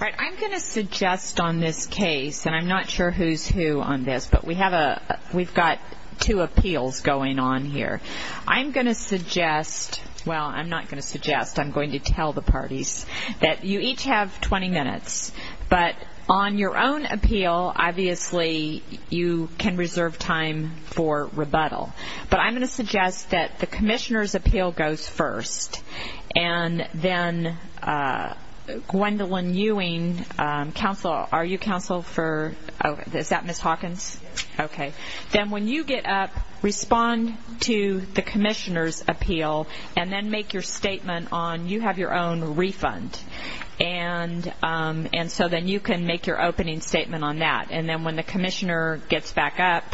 I'm going to suggest on this case, and I'm not sure who's who on this, but we've got two appeals going on here. I'm going to suggest, well, I'm not going to suggest, I'm going to tell the parties, that you each have 20 minutes, but on your own appeal, obviously, you can reserve time for rebuttal. But I'm going to suggest that the Commissioner's appeal goes first, and then Gwendolyn Ewing, counsel, are you counsel for, is that Ms. Hawkins? Yes. Okay. Then when you get up, respond to the Commissioner's appeal, and then make your statement on, you have your own refund. And so then you can make your opening statement on that. And then when the Commissioner gets back up,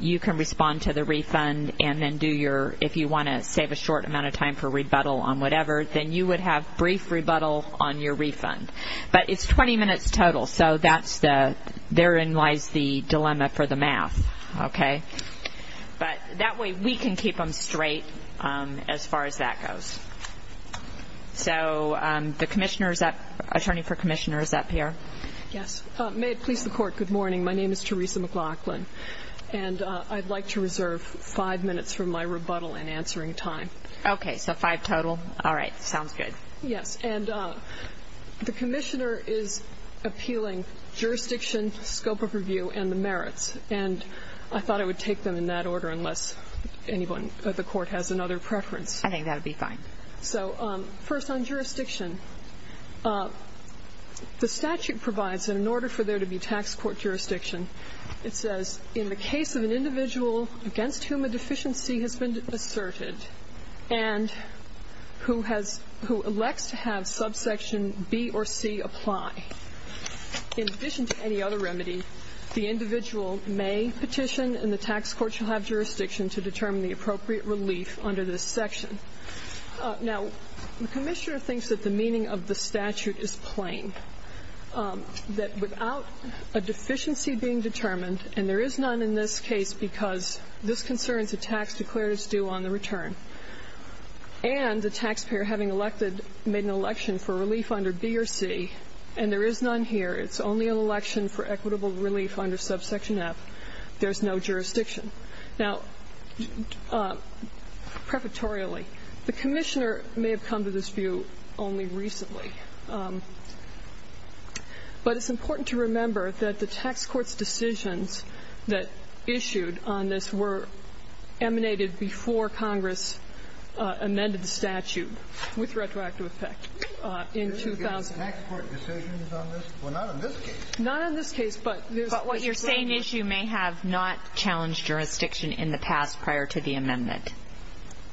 you can respond to the refund and do your, if you want to save a short amount of time for rebuttal on whatever, then you would have brief rebuttal on your refund. But it's 20 minutes total, so that's the, therein lies the dilemma for the math, okay? But that way, we can keep them straight as far as that goes. So the Commissioner is up, Attorney for Commissioner is up here. Yes. May it please the Court, good morning. My name is Teresa McLaughlin, and I'd like to reserve five minutes for my rebuttal and answering time. Okay. So five total? All right. Sounds good. Yes. And the Commissioner is appealing jurisdiction, scope of review, and the merits. And I thought I would take them in that order unless anyone at the Court has another preference. I think that would be fine. So first on jurisdiction, the statute provides that in order for there to be tax court jurisdiction, it says, in the case of an individual against whom a deficiency has been asserted and who has, who elects to have subsection B or C apply, in addition to any other remedy, the individual may petition, and the tax court shall have jurisdiction to determine the appropriate relief under this section. Now, the Commissioner thinks that the meaning of the statute is plain, that without a deficiency being determined, and there is none in this case because this concerns a tax declared as due on the return, and the taxpayer having elected, made an election for relief under B or C, and there is none here, it's only an election for equitable relief under subsection F, there's no jurisdiction. Now, prefatorially, the Commissioner may have come to this view only recently, but it's decisions that issued on this were emanated before Congress amended the statute with retroactive effect in 2000. There's been tax court decisions on this? Well, not on this case. Not on this case, but there's a strong... But what you're saying is you may have not challenged jurisdiction in the past prior to the amendment.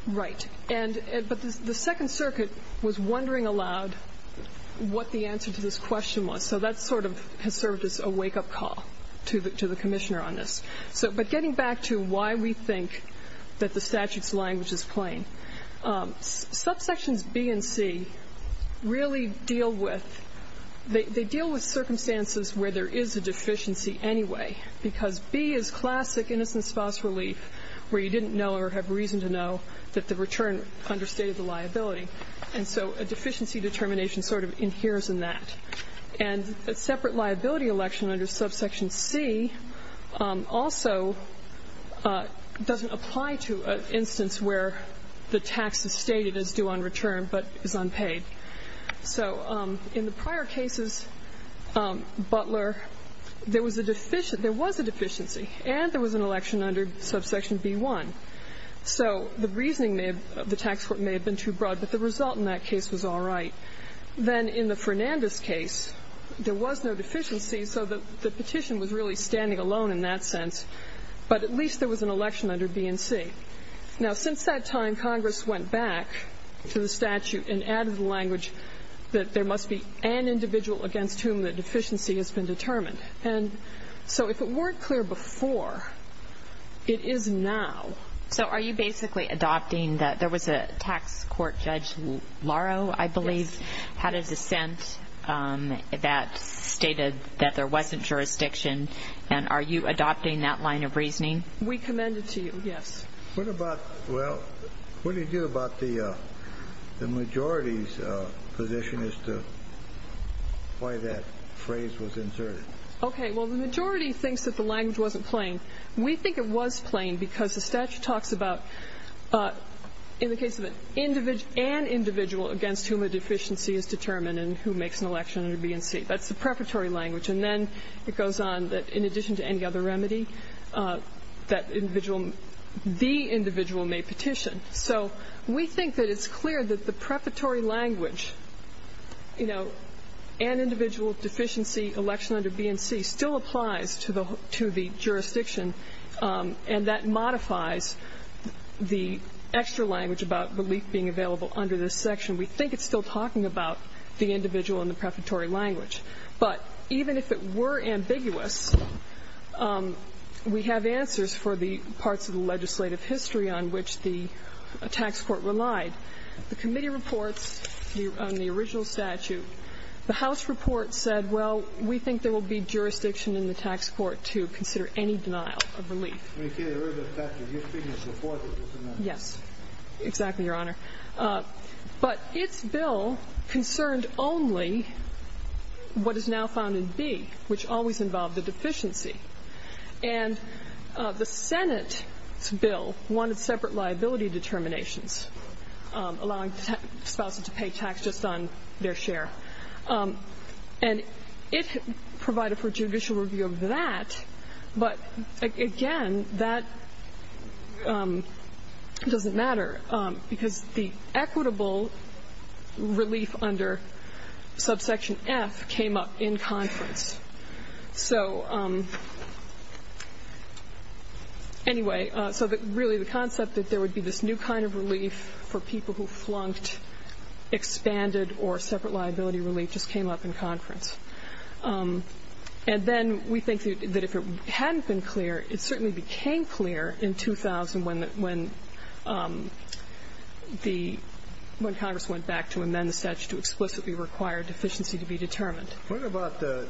Right. And, but the Second Circuit was wondering aloud what the answer to this question was, so that sort of has served as a wake-up call to the Commissioner on this. So, but getting back to why we think that the statute's language is plain, subsections B and C really deal with, they deal with circumstances where there is a deficiency anyway, because B is classic innocent spouse relief where you didn't know or have reason to know that the return understated the liability, and so a deficiency determination sort of inheres in that. And a separate liability election under subsection C also doesn't apply to an instance where the tax is stated as due on return but is unpaid. So in the prior cases, Butler, there was a deficient, there was a deficiency, and there was an election under subsection B1. So the reasoning may have, the tax court may have been too broad, but the result in that then in the Fernandez case, there was no deficiency, so the petition was really standing alone in that sense. But at least there was an election under B and C. Now since that time, Congress went back to the statute and added the language that there must be an individual against whom the deficiency has been determined. And so if it weren't clear before, it is now. So are you basically adopting, there was a tax court judge, Laro, I believe, had a dissent that stated that there wasn't jurisdiction, and are you adopting that line of reasoning? We commend it to you, yes. What about, well, what do you do about the majority's position as to why that phrase was inserted? Okay, well the majority thinks that the language wasn't plain. We think it was plain because the statute talks about, in the case of an individual against whom a deficiency is determined and who makes an election under B and C. That's the preparatory language. And then it goes on that in addition to any other remedy, that individual, the individual may petition. So we think that it's clear that the preparatory language, you know, an individual deficiency election under B and C still applies to the jurisdiction, and that modifies the extra language about relief being available under this section. We think it's still talking about the individual in the preparatory language. But even if it were ambiguous, we have answers for the parts of the legislative history on which the tax court relied. The committee reports on the original statute. The House report said, well, we think there will be jurisdiction in the tax court to consider any denial of relief. Yes, exactly, Your Honor. But its bill concerned only what is now found in B, which always involved a deficiency. And the Senate's bill wanted separate liability determinations, allowing spouses to pay tax just on their share. And it provided for judicial review of that, but again, that doesn't matter because the equitable relief under subsection F came up in conference. So anyway, so really the concept that there would be this new kind of relief for people who flunked, expanded, or separate liability relief just came up in conference. And then we think that if it hadn't been clear, it certainly became clear in 2000 when Congress went back to amend the statute to explicitly require deficiency to be determined. What about the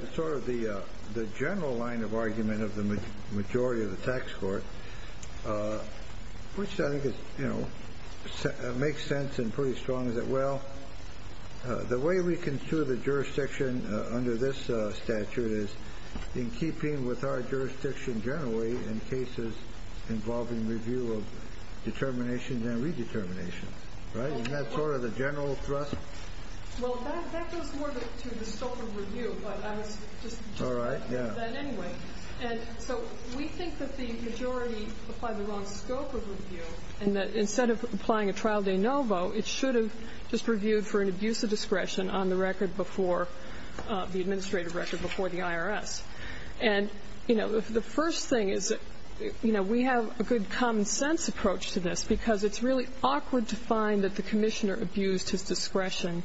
general line of argument of the majority of the tax court, which I think makes sense and pretty strong, is that, well, the way we construe the jurisdiction under this statute is in keeping with our jurisdiction generally in cases involving review of determinations and redeterminations. Isn't that sort of the general thrust? Well, that goes more to the scope of review, but I was just going to say that anyway. And so we think that the majority applied the wrong scope of review and that instead of applying a trial de novo, it should have just reviewed for an abuse of discretion on the record before, the administrative record before the IRS. And the first thing is that we have a good common sense approach to this because it's really awkward to find that the commissioner abused his discretion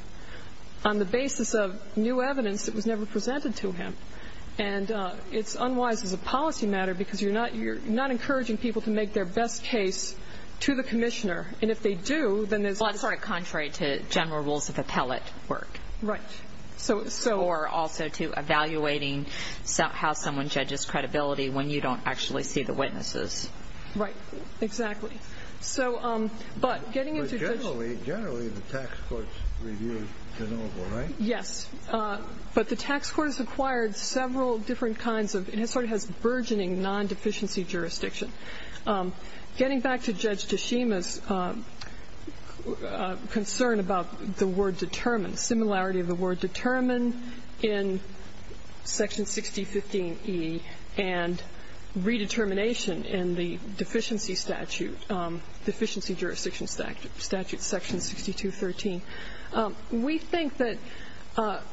on the basis of new evidence that was never presented to him. And it's unwise as a policy matter because you're not encouraging people to make their best case to the commissioner. And if they do, then there's... Well, that's sort of contrary to general rules of appellate work. Right. Or also to evaluating how someone judges credibility when you don't actually see the witnesses. Right, exactly. So, but getting into... But generally, generally the tax court's review is de novo, right? Yes, but the tax court has acquired several different kinds of, it sort of has burgeoning non-deficiency jurisdiction. Getting back to Judge Tashima's concern about the word determined, similarity of the word determine in section 6015E and redetermination in the deficiency statute, deficiency jurisdiction statute, section 6213. We think that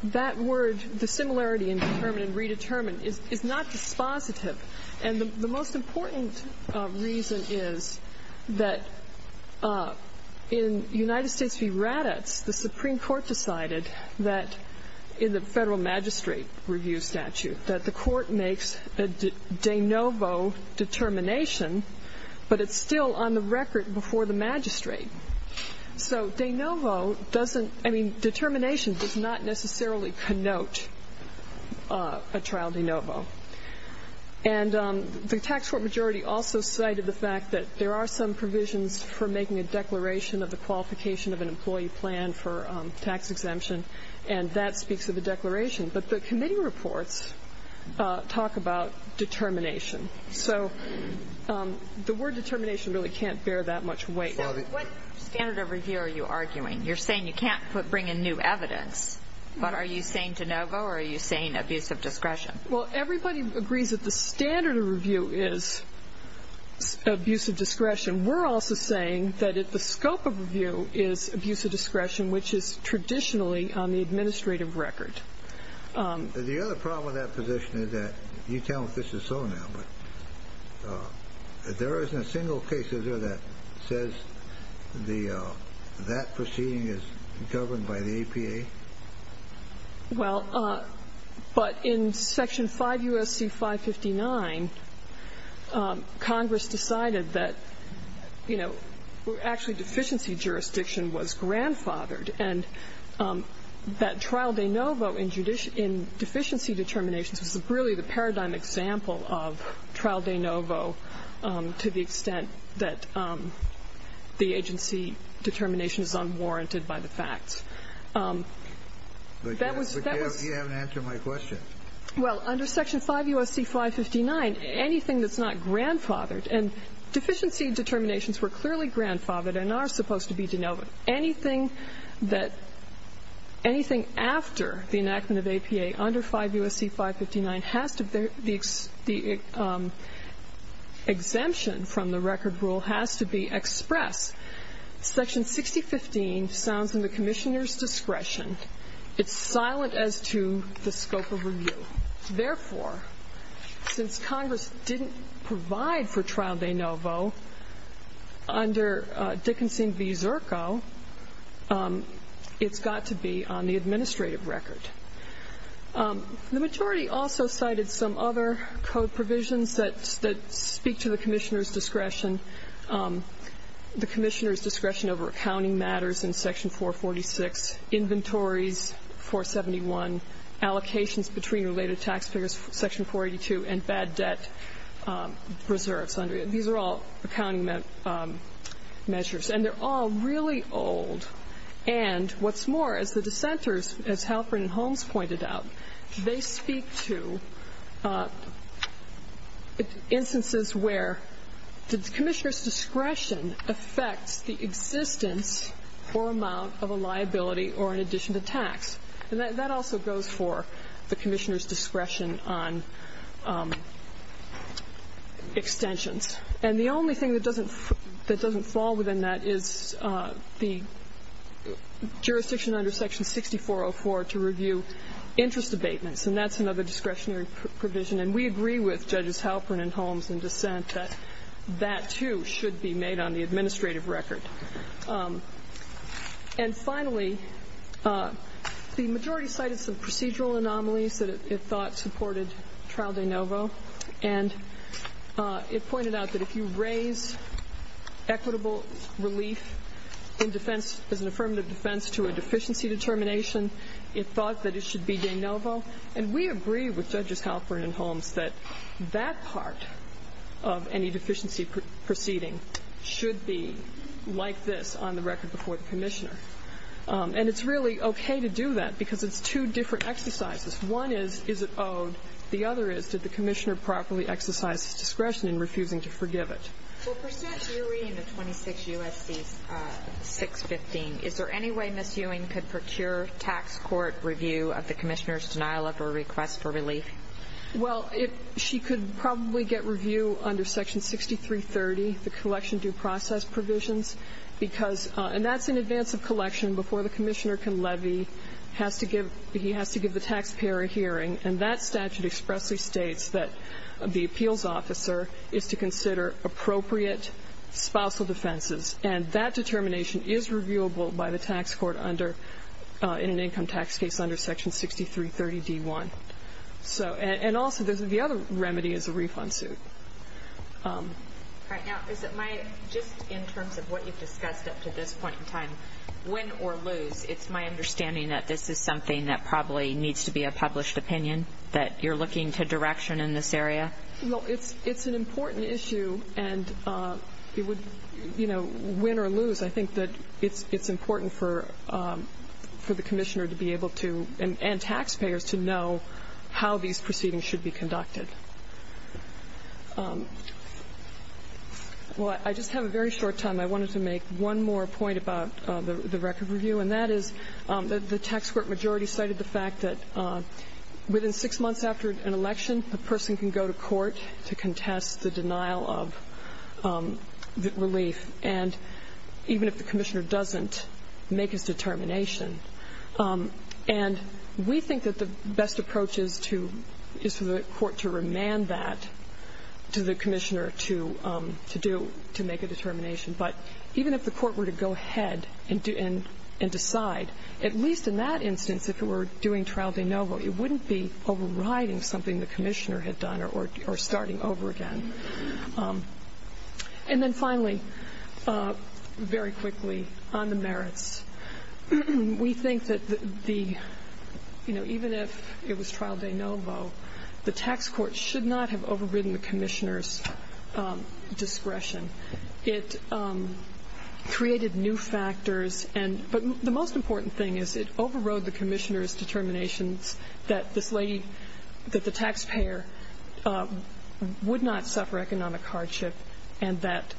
that word, the similarity in determine and redetermine, is not dispositive. And the most important reason is that in United States v. Raddatz, the Supreme Court decided that in the federal magistrate review statute, that the court makes a de novo determination, but it's still on the record before the magistrate. So de novo doesn't, I mean, determination does not necessarily connote a trial de novo. And the tax court majority also cited the fact that there are some provisions for making a declaration of the qualification of an employee plan for tax exemption, and that speaks of the declaration. But the committee reports talk about determination. So the word determination really can't bear that much weight. So what standard of review are you arguing? You're saying you can't bring in new evidence, but are you saying de novo or are you saying abuse of discretion? Well everybody agrees that the standard of review is abuse of discretion. We're also saying that the scope of review is abuse of discretion, which is traditionally on the administrative record. The other problem with that position is that you tell me if this is so now, but there isn't a single case, is there, that says the that proceeding is governed by the APA? Well, but in Section 5 U.S.C. 559, Congress decided that there is a standard of review that, you know, actually deficiency jurisdiction was grandfathered. And that trial de novo in deficiency determinations was really the paradigm example of trial de novo to the extent that the agency determination is unwarranted by the facts. But you haven't answered my question. Well, under Section 5 U.S.C. 559, anything that's not grandfathered, and deficiency determinations were clearly grandfathered and are supposed to be de novo, anything that, anything after the enactment of APA under 5 U.S.C. 559 has to be, the exemption from the record rule has to be expressed. Section 6015 sounds in the Commissioner's discretion. It's silent as to the scope of review. Therefore, since Congress didn't provide for trial de novo under Dickinson v. Zirko, it's got to be on the administrative record. The majority also cited some other code provisions that speak to the Commissioner's discretion. The Commissioner's discretion over accounting matters in Section 446, inventories 471, allocations between related tax payers, Section 482, and bad debt reserves. These are all accounting measures. And they're all really old. And what's more, as the dissenters, as Halperin and Holmes pointed out, they speak to instances where the Commissioner's discretion affects the existence or amount of a liability or an addition to tax. And that also goes for the Commissioner's discretion on extensions. And the only thing that doesn't fall within that is the jurisdiction under Section 6404 to review interest abatements, and that's another discretionary provision. And we agree with Judges Halperin and Holmes in dissent that that, too, should be made on the administrative record. And finally, the majority cited some procedural anomalies that it thought supported Trial de Novo. And it pointed out that if you raise equitable relief in defense as an affirmative defense to a deficiency determination, it thought that it should be de Novo. And we agree with Judges Halperin and Holmes that that part of any deficiency proceeding should be like this on the record before the Commissioner. And it's really okay to do that because it's two different exercises. One is, is it owed? The other is, did the Commissioner properly exercise his discretion in refusing to forgive it? Well, per sense, you're reading the 26 U.S.C. 615. Is there any way Ms. Ewing could procure tax court review of the Commissioner's denial of or request for relief? Well, she could probably get review under Section 6330, the collection due process provisions, because, and that's in advance of collection before the Commissioner can levy, has to give, he has to give the taxpayer a hearing. And that statute expressly states that the appeals officer is to consider appropriate spousal defenses. And that determination is reviewable by the tax court under, in an income tax case under Section 6330d1. So, and also, there's the other remedy is a refund suit. All right, now, is it my, just in terms of what you've discussed up to this point in time, win or lose, it's my understanding that this is something that probably needs to be a published opinion, that you're looking to direction in this area? Well, it's, it's an important issue and it would, you know, win or lose. I think that it's, it's important for, for the Commissioner to be able to, and, and taxpayers to know how these proceedings should be conducted. Well, I just have a very short time. I wanted to make one more point about the, the record review. And that is that the tax court majority cited the fact that within six months after an election, a person can go to court to contest the denial of relief. And even if the Commissioner doesn't make his determination, and we think that the best approach is to, is for the court to remand that to the Commissioner to, to do, to make a determination. But even if the court were to go ahead and do, and, and decide, at least in that instance, if it were doing trial de novo, it wouldn't be overriding something the Commissioner had done or, or starting over again. And then finally, very quickly on the merits. We think that the, you know, even if it was trial de novo, the tax court should not have overridden the Commissioner's discretion. It created new factors and, but the most important thing is it overrode the Commissioner's discretion to suffer economic hardship and that,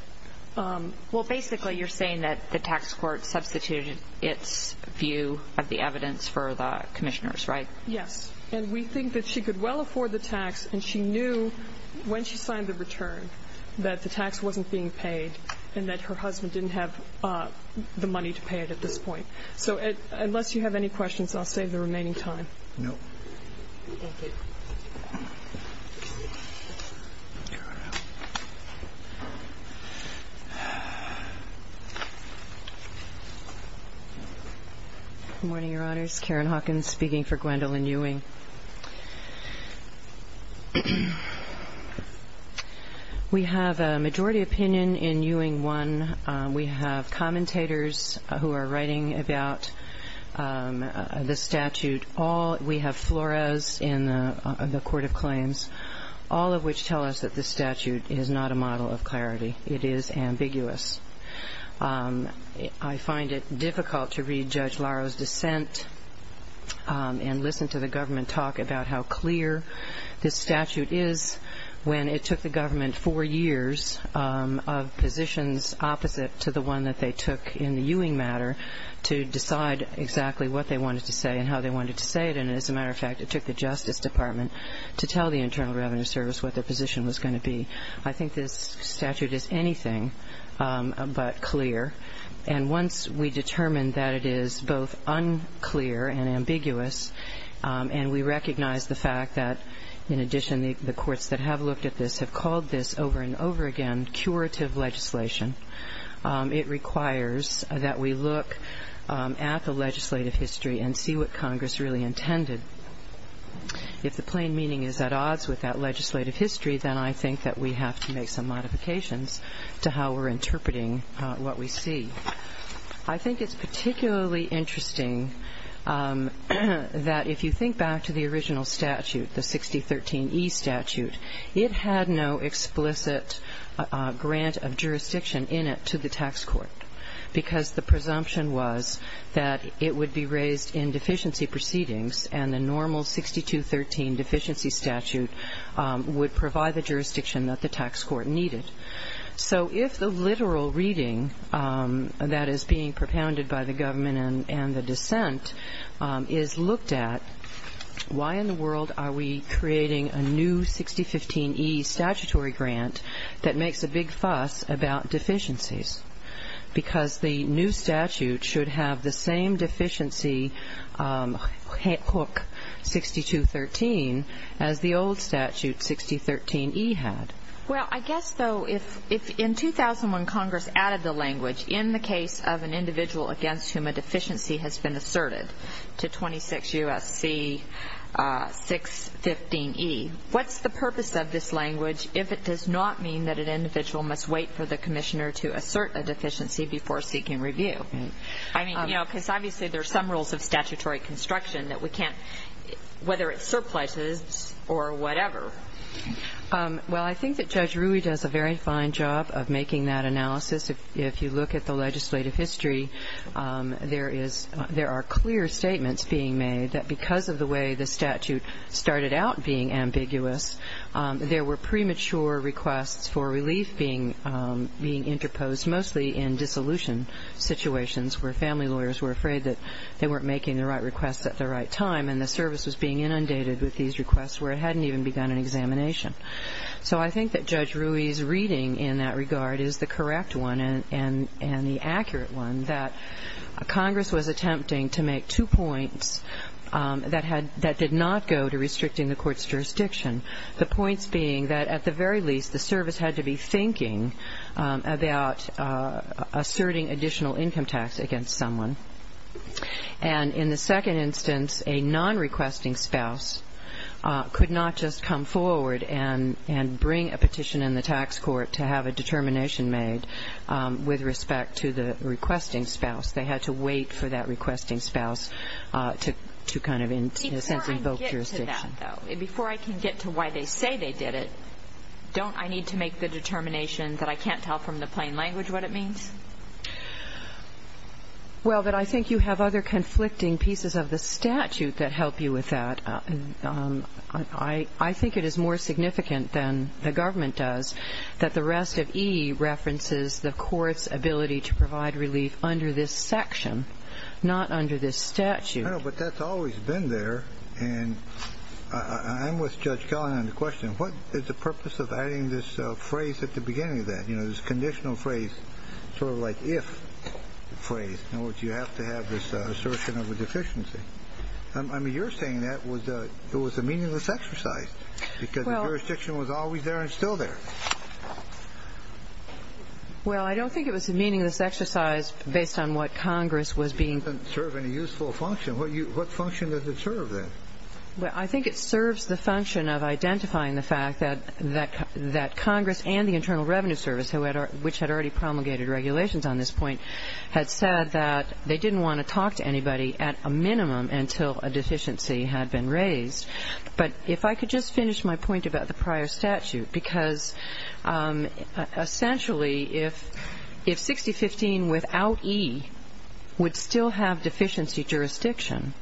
well, basically, you're saying that the tax court substituted its view of the evidence for the Commissioner's, right? Yes. And we think that she could well afford the tax. And she knew when she signed the return, that the tax wasn't being paid and that her husband didn't have the money to pay it at this point. So unless you have any questions, I'll save the remaining time. No. Good morning, Your Honors. Karen Hawkins speaking for Gwendolyn Ewing. We have a majority opinion in Ewing 1. We have commentators who are writing about the statute. All, we have flora's in the Court of Claims, all of which tell us that the statute is not in effect. The statute is not a model of clarity. It is ambiguous. I find it difficult to read Judge Laro's dissent and listen to the government talk about how clear this statute is when it took the government four years of positions opposite to the one that they took in the Ewing matter to decide exactly what they wanted to say and how they wanted to say it. And as a matter of fact, it took the Justice Department to tell the Internal Revenue Service what their position was going to be. I think this statute is anything but clear. And once we determine that it is both unclear and ambiguous, and we recognize the fact that, in addition, the courts that have looked at this have called this over and over again curative legislation, it requires that we look at the legislative history and see what Congress really intended. If the plain meaning is at odds with that legislative history, then I think that we have to make some modifications to how we're interpreting what we see. I think it's particularly interesting that if you think back to the original statute, the 6013E statute, it had no explicit grant of jurisdiction in it to the tax court, because the presumption was that it would be raised in deficiency proceedings and the normal 6213 deficiency statute would provide the jurisdiction that the tax court needed. So if the literal reading that is being propounded by the government and the dissent is looked at, why in the world are we creating a new 6015E statutory grant that makes a big fuss about deficiencies? Because the new statute should have the same deficiency hook 6213 as the old statute 6013E had. Well, I guess, though, if in 2001 Congress added the language, in the case of an individual against whom a deficiency has been asserted to 26 U.S.C. 615E, what's the purpose of this language if it does not mean that an individual must wait for the commissioner to assert a deficiency before seeking review? I mean, you know, because obviously there are some rules of statutory construction that we can't, whether it's surpluses or whatever. Well, I think that Judge Rui does a very fine job of making that analysis. If you look at the legislative history, there are clear statements being made that because of the way the statute started out being ambiguous, there were premature requests for relief being interposed, mostly in dissolution situations where family lawyers were afraid that they weren't making the right requests at the right time and the service was being inundated with these requests where it hadn't even begun an examination. So I think that Judge Rui's reading in that regard is the correct one and the accurate one, that Congress was attempting to make two points that did not go to restricting the court's jurisdiction, the points being that at the very least the service had to be thinking about asserting additional income tax against someone. And in the second instance, a non-requesting spouse could not just come forward and bring a petition in the tax court to have a determination made with respect to the requesting spouse. They had to wait for that requesting spouse to kind of, in a sense, invoke jurisdiction. Before I can get to that, though, before I can get to why they say they did it, don't I need to make the determination that I can't tell from the plain language what it means? Well, I think you have other conflicting pieces of the statute that help you with that. I think it is more significant than the government does that the rest of E references the court's ability to provide relief under this section, not under this statute. But that's always been there. And I'm with Judge Kellin on the question. What is the purpose of adding this phrase at the beginning of that, you know, this conditional phrase, sort of like if phrase in which you have to have this assertion of a deficiency? I mean, you're saying that it was a meaningless exercise because the jurisdiction was always there and still there. Well, I don't think it was a meaningless exercise based on what Congress was being... It doesn't serve any useful function. What function does it serve, then? Well, I think it serves the function of identifying the fact that Congress and the Internal Revenue Service, which had already promulgated regulations on this point, had said that they didn't want to talk to anybody at a minimum until a deficiency had been raised. But if I could just finish my point about the prior statute, because essentially if 6015 without E would still have deficiency jurisdiction,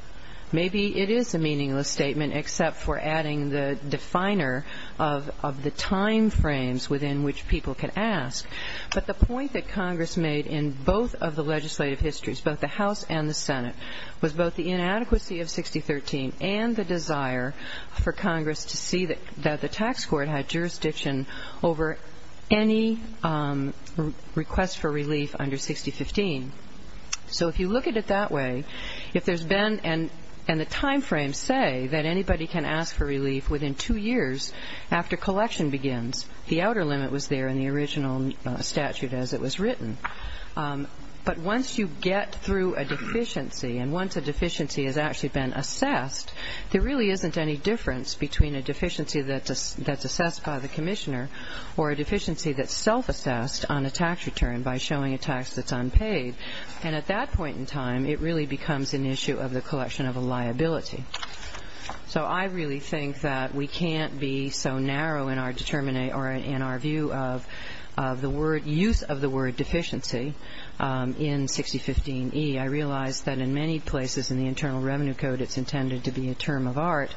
maybe it is a meaningless statement except for adding the definer of the time frames within which people could ask. But the point that Congress made in both of the legislative histories, both the House and the Senate, was both the inadequacy of 6013 and the desire for Congress to see that the tax court had jurisdiction over any request for relief under 6015. So if you look at it that way, if there's been... And the time frames say that anybody can ask for relief within two years after collection begins. The outer limit was there in the original statute as it was written. But once you get through a deficiency and once a deficiency has actually been assessed, there really isn't any difference between a deficiency that's assessed by the commissioner or a deficiency that's self-assessed on a tax return by showing a tax that's unpaid. And at that point in time, it really becomes an issue of the collection of a liability. So I really think that we can't be so narrow in our view of the use of the word deficiency in 6015E. I realize that in many places in the Internal Revenue Code it's intended to be a term of art,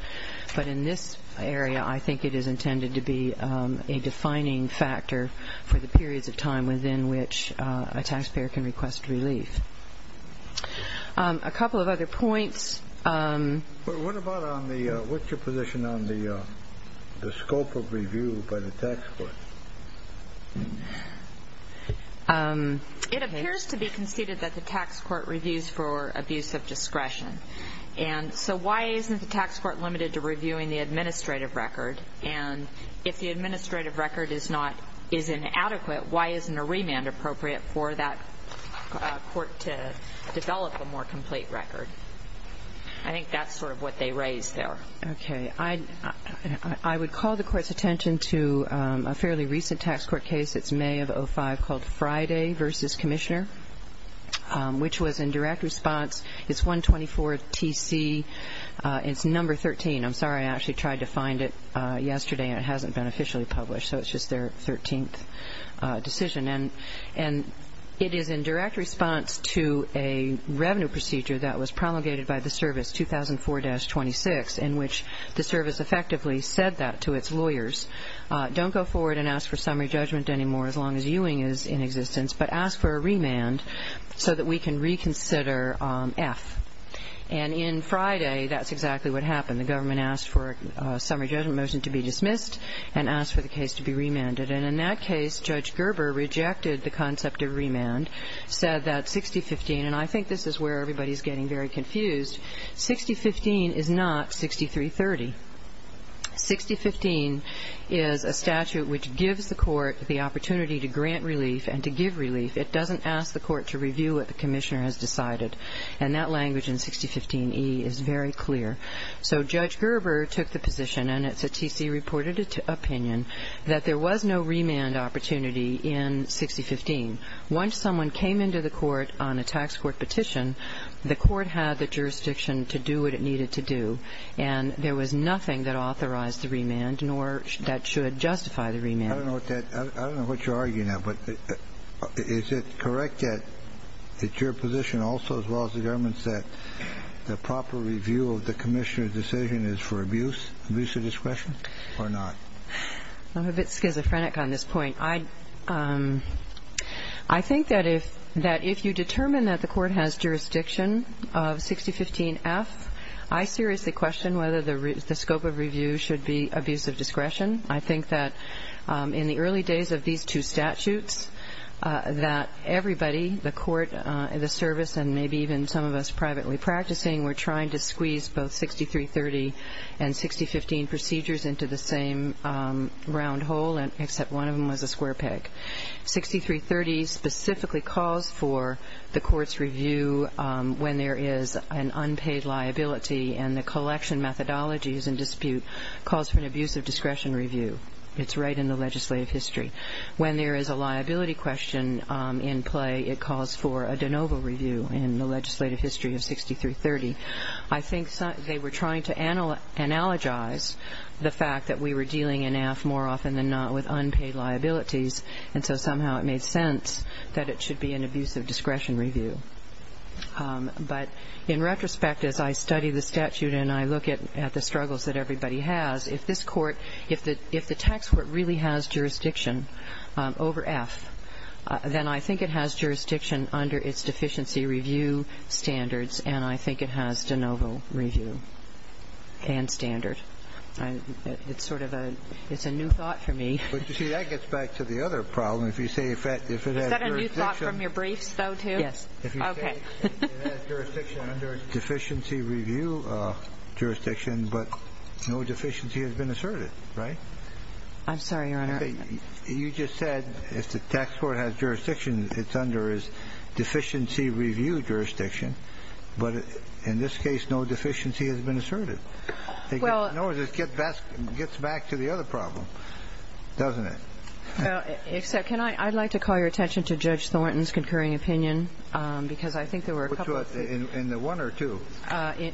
but in this area I think it is intended to be a defining factor for the periods of time within which a taxpayer can request relief. A couple of other points. What's your position on the scope of review by the tax court? It appears to be conceded that the tax court reviews for abuse of discretion. And so why isn't the tax court limited to reviewing the administrative record? And if the administrative record is inadequate, why isn't a remand appropriate for that court to develop a more complete record? I think that's sort of what they raised there. Okay. I would call the court's attention to a fairly recent tax court case. It's May of 2005 called Friday v. Commissioner, which was in direct response. It's 124 TC. It's number 13. I'm sorry, I actually tried to find it yesterday and it hasn't been officially published, so it's just their 13th decision. And it is in direct response to a revenue procedure that was promulgated by the service 2004-26 in which the service effectively said that to its lawyers, don't go forward and ask for summary judgment anymore as long as Ewing is in existence, but ask for a remand so that we can reconsider F. And in Friday, that's exactly what happened. The government asked for a summary judgment motion to be dismissed and asked for the case to be remanded. And in that case, Judge Gerber rejected the concept of remand, said that 6015, and I think this is where everybody is getting very confused, 6015 is not 6330. 6015 is a statute which gives the court the opportunity to grant relief and to give relief. It doesn't ask the court to review what the commissioner has decided. And that language in 6015E is very clear. So Judge Gerber took the position, and it's a TC-reported opinion, that there was no remand opportunity in 6015. Once someone came into the court on a tax court petition, the court had the jurisdiction to do what it needed to do, and there was nothing that authorized the remand nor that should justify the remand. I don't know what you're arguing at, but is it correct that it's your position also, as well as the government's, that the proper review of the commissioner's decision is for abuse, abuse of discretion, or not? I'm a bit schizophrenic on this point. I think that if you determine that the court has jurisdiction of 6015F, I seriously question whether the scope of review should be abuse of discretion. I think that in the early days of these two statutes, that everybody, the court, the service, and maybe even some of us privately practicing were trying to squeeze both 6330 and 6015 procedures into the same round hole, except one of them was a square peg. 6330 specifically calls for the court's review when there is an unpaid liability, and the collection methodologies in dispute calls for an abuse of discretion review. It's right in the legislative history. When there is a liability question in play, it calls for a de novo review in the legislative history of 6330. I think they were trying to analogize the fact that we were dealing in AFF more often than not with unpaid liabilities, and so somehow it made sense that it should be an abuse of discretion review. But in retrospect, as I study the statute and I look at the struggles that everybody has, if this court, if the tax court really has jurisdiction over F, then I think it has jurisdiction under its deficiency review standards, and I think it has de novo review and standard. It's sort of a new thought for me. But, you see, that gets back to the other problem. If you say if it has jurisdiction. Yes. Okay. If you say it has jurisdiction under its deficiency review jurisdiction, but no deficiency has been asserted, right? I'm sorry, Your Honor. You just said if the tax court has jurisdiction, it's under its deficiency review jurisdiction. But in this case, no deficiency has been asserted. It gets back to the other problem, doesn't it? Except I'd like to call your attention to Judge Thornton's concurring opinion because I think there were a couple of things. In the one or two?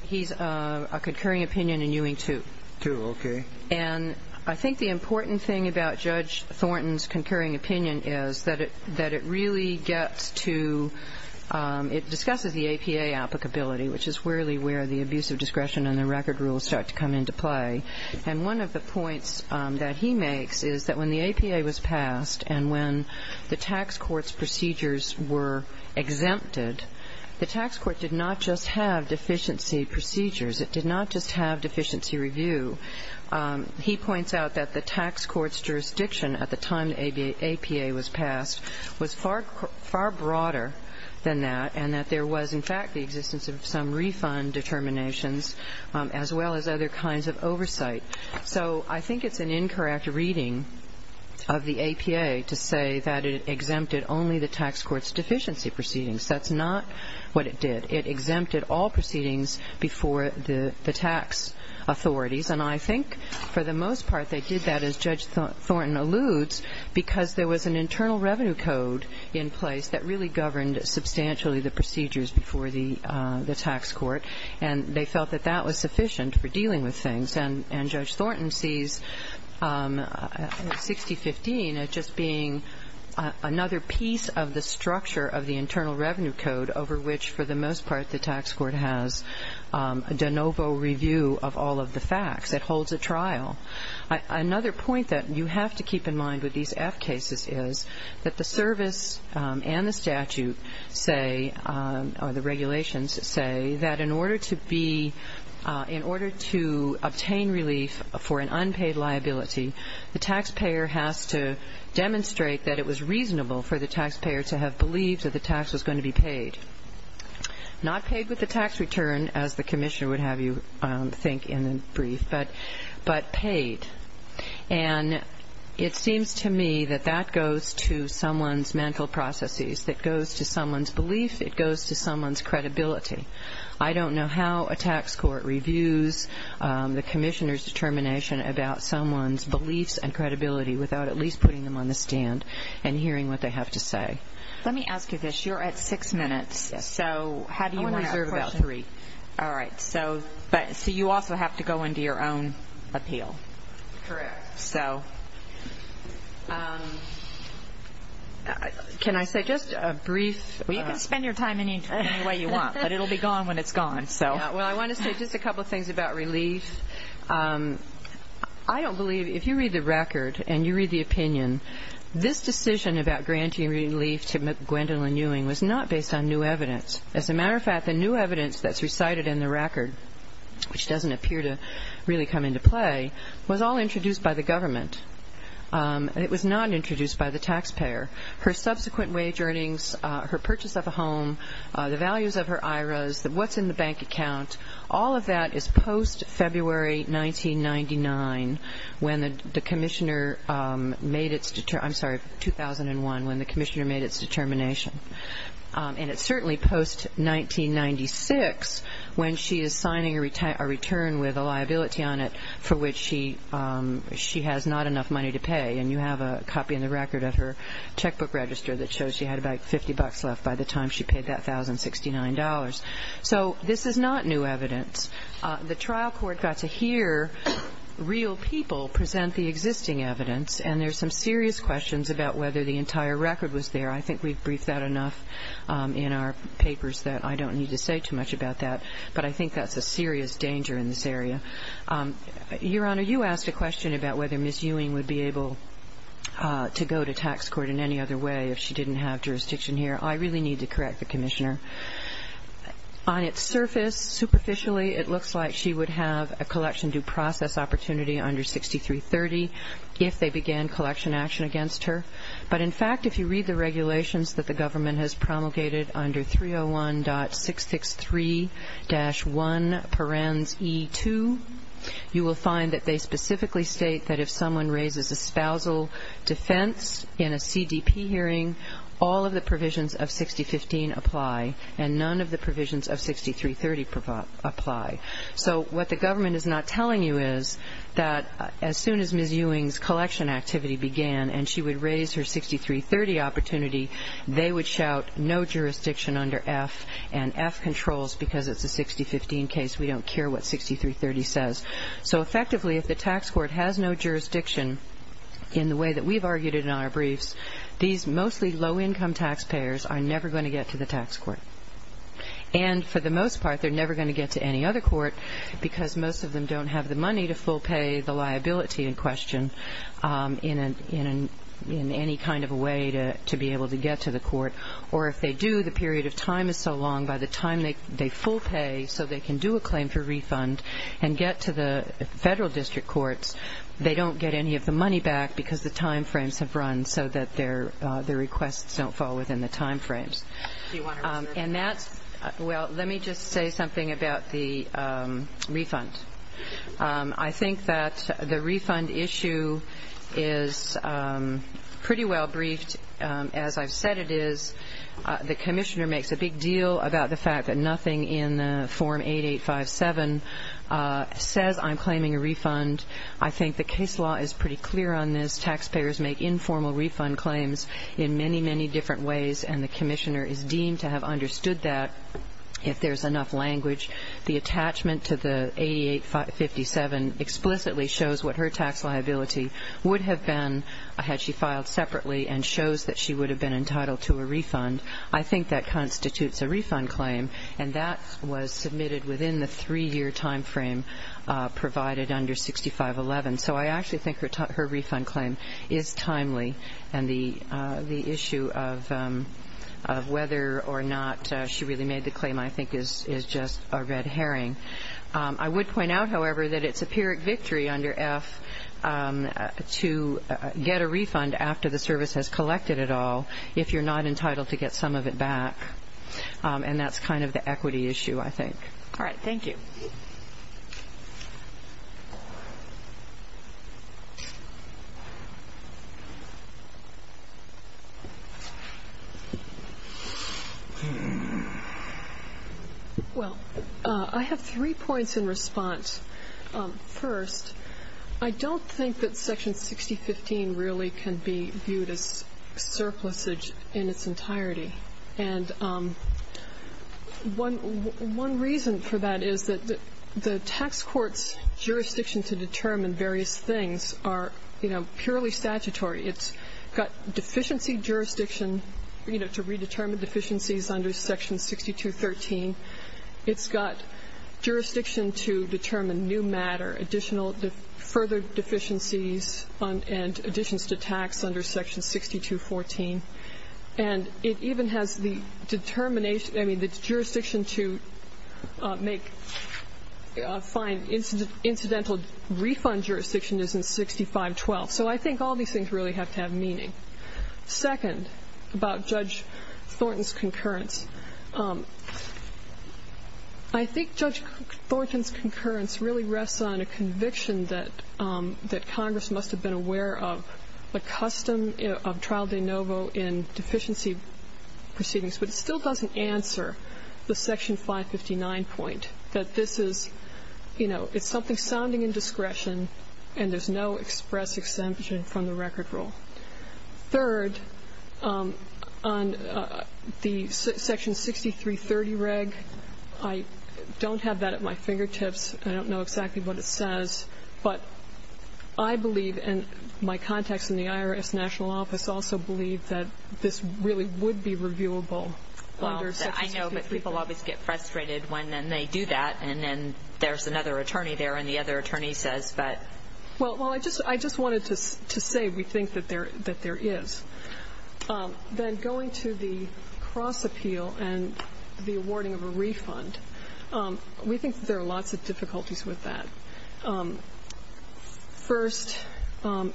He's a concurring opinion in Ewing 2. 2, okay. And I think the important thing about Judge Thornton's concurring opinion is that it really gets to ‑‑ it discusses the APA applicability, which is really where the abuse of discretion and the record rules start to come into play. And one of the points that he makes is that when the APA was passed and when the tax court's procedures were exempted, the tax court did not just have deficiency procedures. It did not just have deficiency review. He points out that the tax court's jurisdiction at the time the APA was passed was far broader than that and that there was, in fact, the existence of some refund determinations as well as other kinds of oversight. So I think it's an incorrect reading of the APA to say that it exempted only the tax court's deficiency proceedings. That's not what it did. It exempted all proceedings before the tax authorities. And I think for the most part they did that, as Judge Thornton alludes, because there was an internal revenue code in place that really governed substantially the procedures before the tax court, and they felt that that was sufficient for dealing with things. And Judge Thornton sees 6015 as just being another piece of the structure of the internal revenue code over which, for the most part, the tax court has a de novo review of all of the facts. It holds a trial. Another point that you have to keep in mind with these F cases is that the service and the statute say or the regulations say that in order to be, in order to obtain relief for an unpaid liability, the taxpayer has to demonstrate that it was reasonable for the taxpayer to have believed that the tax was going to be paid. Not paid with the tax return, as the commissioner would have you think in the brief, but paid. And it seems to me that that goes to someone's mental processes. It goes to someone's belief. It goes to someone's credibility. I don't know how a tax court reviews the commissioner's determination about someone's beliefs and credibility without at least putting them on the stand and hearing what they have to say. Let me ask you this. You're at six minutes, so how do you want to reserve about three? All right. So you also have to go into your own appeal. Correct. So can I say just a brief? Well, you can spend your time any way you want, but it will be gone when it's gone. Well, I want to say just a couple of things about relief. I don't believe, if you read the record and you read the opinion, this decision about granting relief to Gwendolyn Ewing was not based on new evidence. As a matter of fact, the new evidence that's recited in the record, which doesn't appear to really come into play, was all introduced by the government. It was not introduced by the taxpayer. Her subsequent wage earnings, her purchase of a home, the values of her IRAs, what's in the bank account, all of that is post-February 1999 when the commissioner made its determination. I'm sorry, 2001, when the commissioner made its determination. And it's certainly post-1996 when she is signing a return with a liability on it for which she has not enough money to pay. And you have a copy in the record of her checkbook register that shows she had about 50 bucks left by the time she paid that $1,069. So this is not new evidence. The trial court got to hear real people present the existing evidence, and there's some serious questions about whether the entire record was there. I think we've briefed that enough in our papers that I don't need to say too much about that. But I think that's a serious danger in this area. Your Honor, you asked a question about whether Ms. Ewing would be able to go to tax court in any other way if she didn't have jurisdiction here. I really need to correct the commissioner. On its surface, superficially, it looks like she would have a collection due process opportunity under 6330 if they began collection action against her. But, in fact, if you read the regulations that the government has promulgated under 301.663-1p.e.2, you will find that they specifically state that if someone raises a spousal defense in a CDP hearing, all of the provisions of 6015 apply and none of the provisions of 6330 apply. So what the government is not telling you is that as soon as Ms. Ewing's collection activity began and she would raise her 6330 opportunity, they would shout no jurisdiction under F and F controls because it's a 6015 case. We don't care what 6330 says. So, effectively, if the tax court has no jurisdiction in the way that we've argued it in our briefs, these mostly low-income taxpayers are never going to get to the tax court. And, for the most part, they're never going to get to any other court because most of them don't have the money to full pay the liability in question in any kind of a way to be able to get to the court. Or if they do, the period of time is so long, by the time they full pay so they can do a claim for refund and get to the federal district courts, they don't get any of the money back because the time frames have run so that their requests don't fall within the time frames. And that's – well, let me just say something about the refund. I think that the refund issue is pretty well briefed, as I've said it is. The commissioner makes a big deal about the fact that nothing in Form 8857 says I'm claiming a refund. I think the case law is pretty clear on this. In many, many different ways, and the commissioner is deemed to have understood that if there's enough language. The attachment to the 8857 explicitly shows what her tax liability would have been had she filed separately and shows that she would have been entitled to a refund. I think that constitutes a refund claim, and that was submitted within the three-year time frame provided under 6511. So I actually think her refund claim is timely, and the issue of whether or not she really made the claim I think is just a red herring. I would point out, however, that it's a pyrrhic victory under F to get a refund after the service has collected it all if you're not entitled to get some of it back, and that's kind of the equity issue, I think. All right, thank you. Well, I have three points in response. First, I don't think that Section 6015 really can be viewed as surplusage in its entirety, and one reason for that is that the tax court's jurisdiction to determine various things are, you know, purely statutory. It's got deficiency jurisdiction, you know, to redetermine deficiencies under Section 6213. It's got jurisdiction to determine new matter, additional further deficiencies and additions to tax under Section 6214. And it even has the jurisdiction to find incidental refund jurisdiction is in 6512. So I think all these things really have to have meaning. Second, about Judge Thornton's concurrence. I think Judge Thornton's concurrence really rests on a conviction that Congress must have been aware of, a custom of trial de novo in deficiency proceedings, but it still doesn't answer the Section 559 point that this is, you know, it's something sounding in discretion and there's no express exemption from the record rule. Third, on the Section 6330 reg, I don't have that at my fingertips. I don't know exactly what it says, but I believe, and my contacts in the IRS National Office also believe, that this really would be reviewable under Section 6330. Well, I know, but people always get frustrated when they do that and then there's another attorney there and the other attorney says, but... Well, I just wanted to say we think that there is. Then going to the cross appeal and the awarding of a refund, we think that there are lots of difficulties with that. First,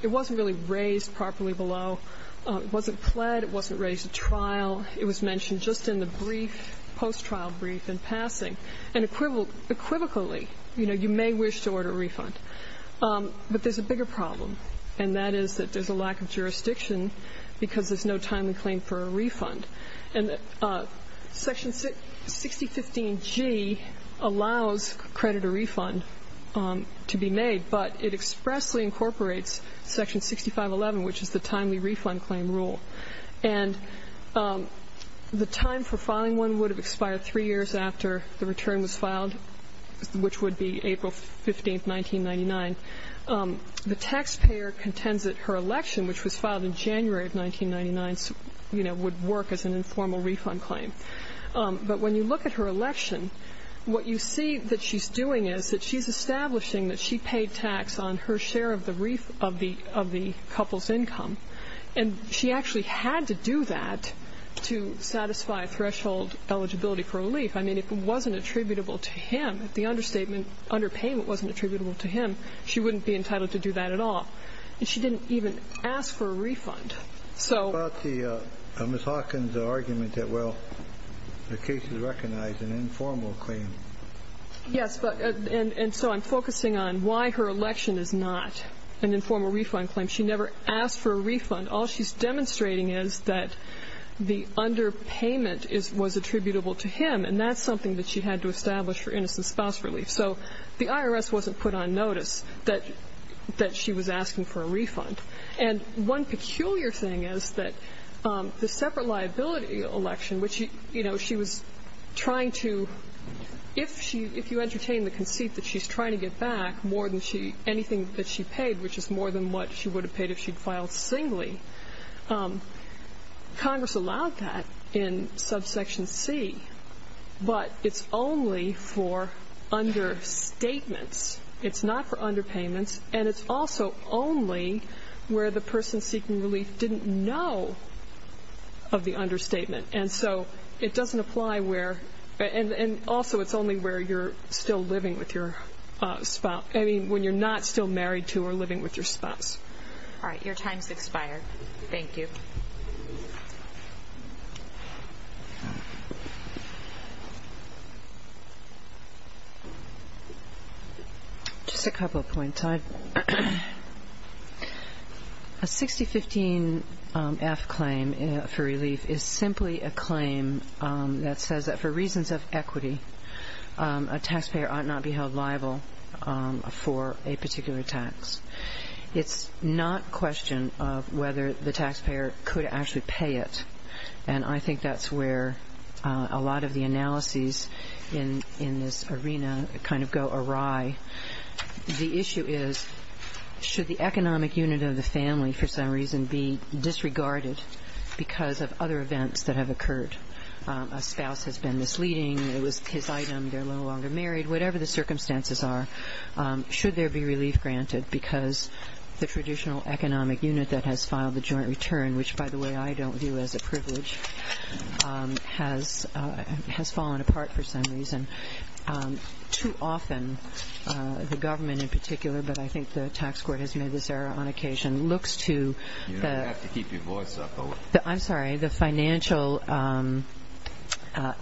it wasn't really raised properly below. It wasn't pled. It wasn't raised at trial. It was mentioned just in the brief, post-trial brief in passing. And equivocally, you know, you may wish to order a refund, but there's a bigger problem, and that is that there's a lack of jurisdiction because there's no timely claim for a refund. And Section 6015G allows credit or refund to be made, but it expressly incorporates Section 6511, which is the timely refund claim rule. And the time for filing one would have expired three years after the return was filed, which would be April 15th, 1999. The taxpayer contends that her election, which was filed in January of 1999, you know, would work as an informal refund claim. But when you look at her election, what you see that she's doing is that she's establishing that she paid tax on her share of the couple's income. And she actually had to do that to satisfy threshold eligibility for relief. I mean, if it wasn't attributable to him, if the understatement, underpayment wasn't attributable to him, she wouldn't be entitled to do that at all. And she didn't even ask for a refund. So Ms. Hawkins' argument that, well, the case is recognized an informal claim. Yes, and so I'm focusing on why her election is not an informal refund claim. She never asked for a refund. All she's demonstrating is that the underpayment was attributable to him, and that's something that she had to establish for innocent spouse relief. So the IRS wasn't put on notice that she was asking for a refund. And one peculiar thing is that the separate liability election, which, you know, she was trying to, if you entertain the conceit that she's trying to get back more than anything that she paid, which is more than what she would have paid if she'd filed singly, Congress allowed that in subsection C. But it's only for understatements. It's not for underpayments. And it's also only where the person seeking relief didn't know of the understatement. And so it doesn't apply where – and also it's only where you're still living with your spouse. I mean, when you're not still married to or living with your spouse. All right. Your time's expired. Thank you. Just a couple of points. A 6015-F claim for relief is simply a claim that says that for reasons of equity, a taxpayer ought not be held liable for a particular tax. It's not a question of whether the taxpayer could actually pay it. And I think that's where a lot of the analyses in this arena kind of go awry. The issue is, should the economic unit of the family, for some reason, be disregarded because of other events that have occurred? A spouse has been misleading. It was his item. They're no longer married. Whatever the circumstances are, should there be relief granted because the traditional economic unit that has filed the joint return, which, by the way, I don't view as a privilege, has fallen apart for some reason. Too often, the government in particular, but I think the tax court has made this error on occasion, looks to the – You don't have to keep your voice up. I'm sorry. The financial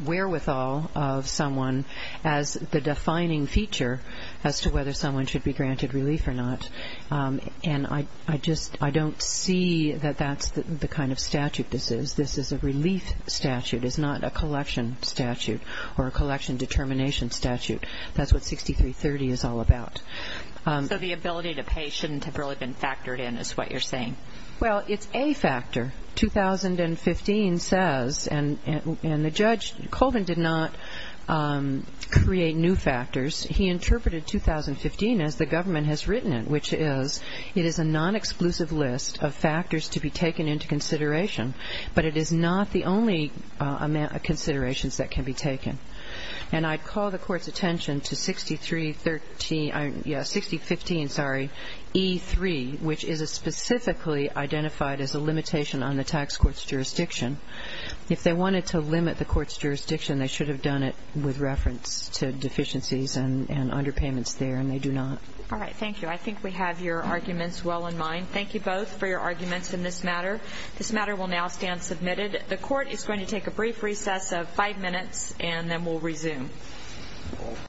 wherewithal of someone as the defining feature as to whether someone should be granted relief or not. And I just don't see that that's the kind of statute this is. This is a relief statute. It's not a collection statute or a collection determination statute. That's what 6330 is all about. So the ability to pay shouldn't have really been factored in is what you're saying. Well, it's a factor. 2015 says, and the judge, Colvin, did not create new factors. He interpreted 2015 as the government has written it, which is it is a non-exclusive list of factors to be taken into consideration, but it is not the only considerations that can be taken. And I'd call the Court's attention to 6313 – yeah, 6015, sorry, E3, which is specifically identified as a limitation on the tax court's jurisdiction. If they wanted to limit the court's jurisdiction, they should have done it with reference to deficiencies and underpayments there, and they do not. All right, thank you. I think we have your arguments well in mind. Thank you both for your arguments in this matter. This matter will now stand submitted. The Court is going to take a brief recess of five minutes, and then we'll resume.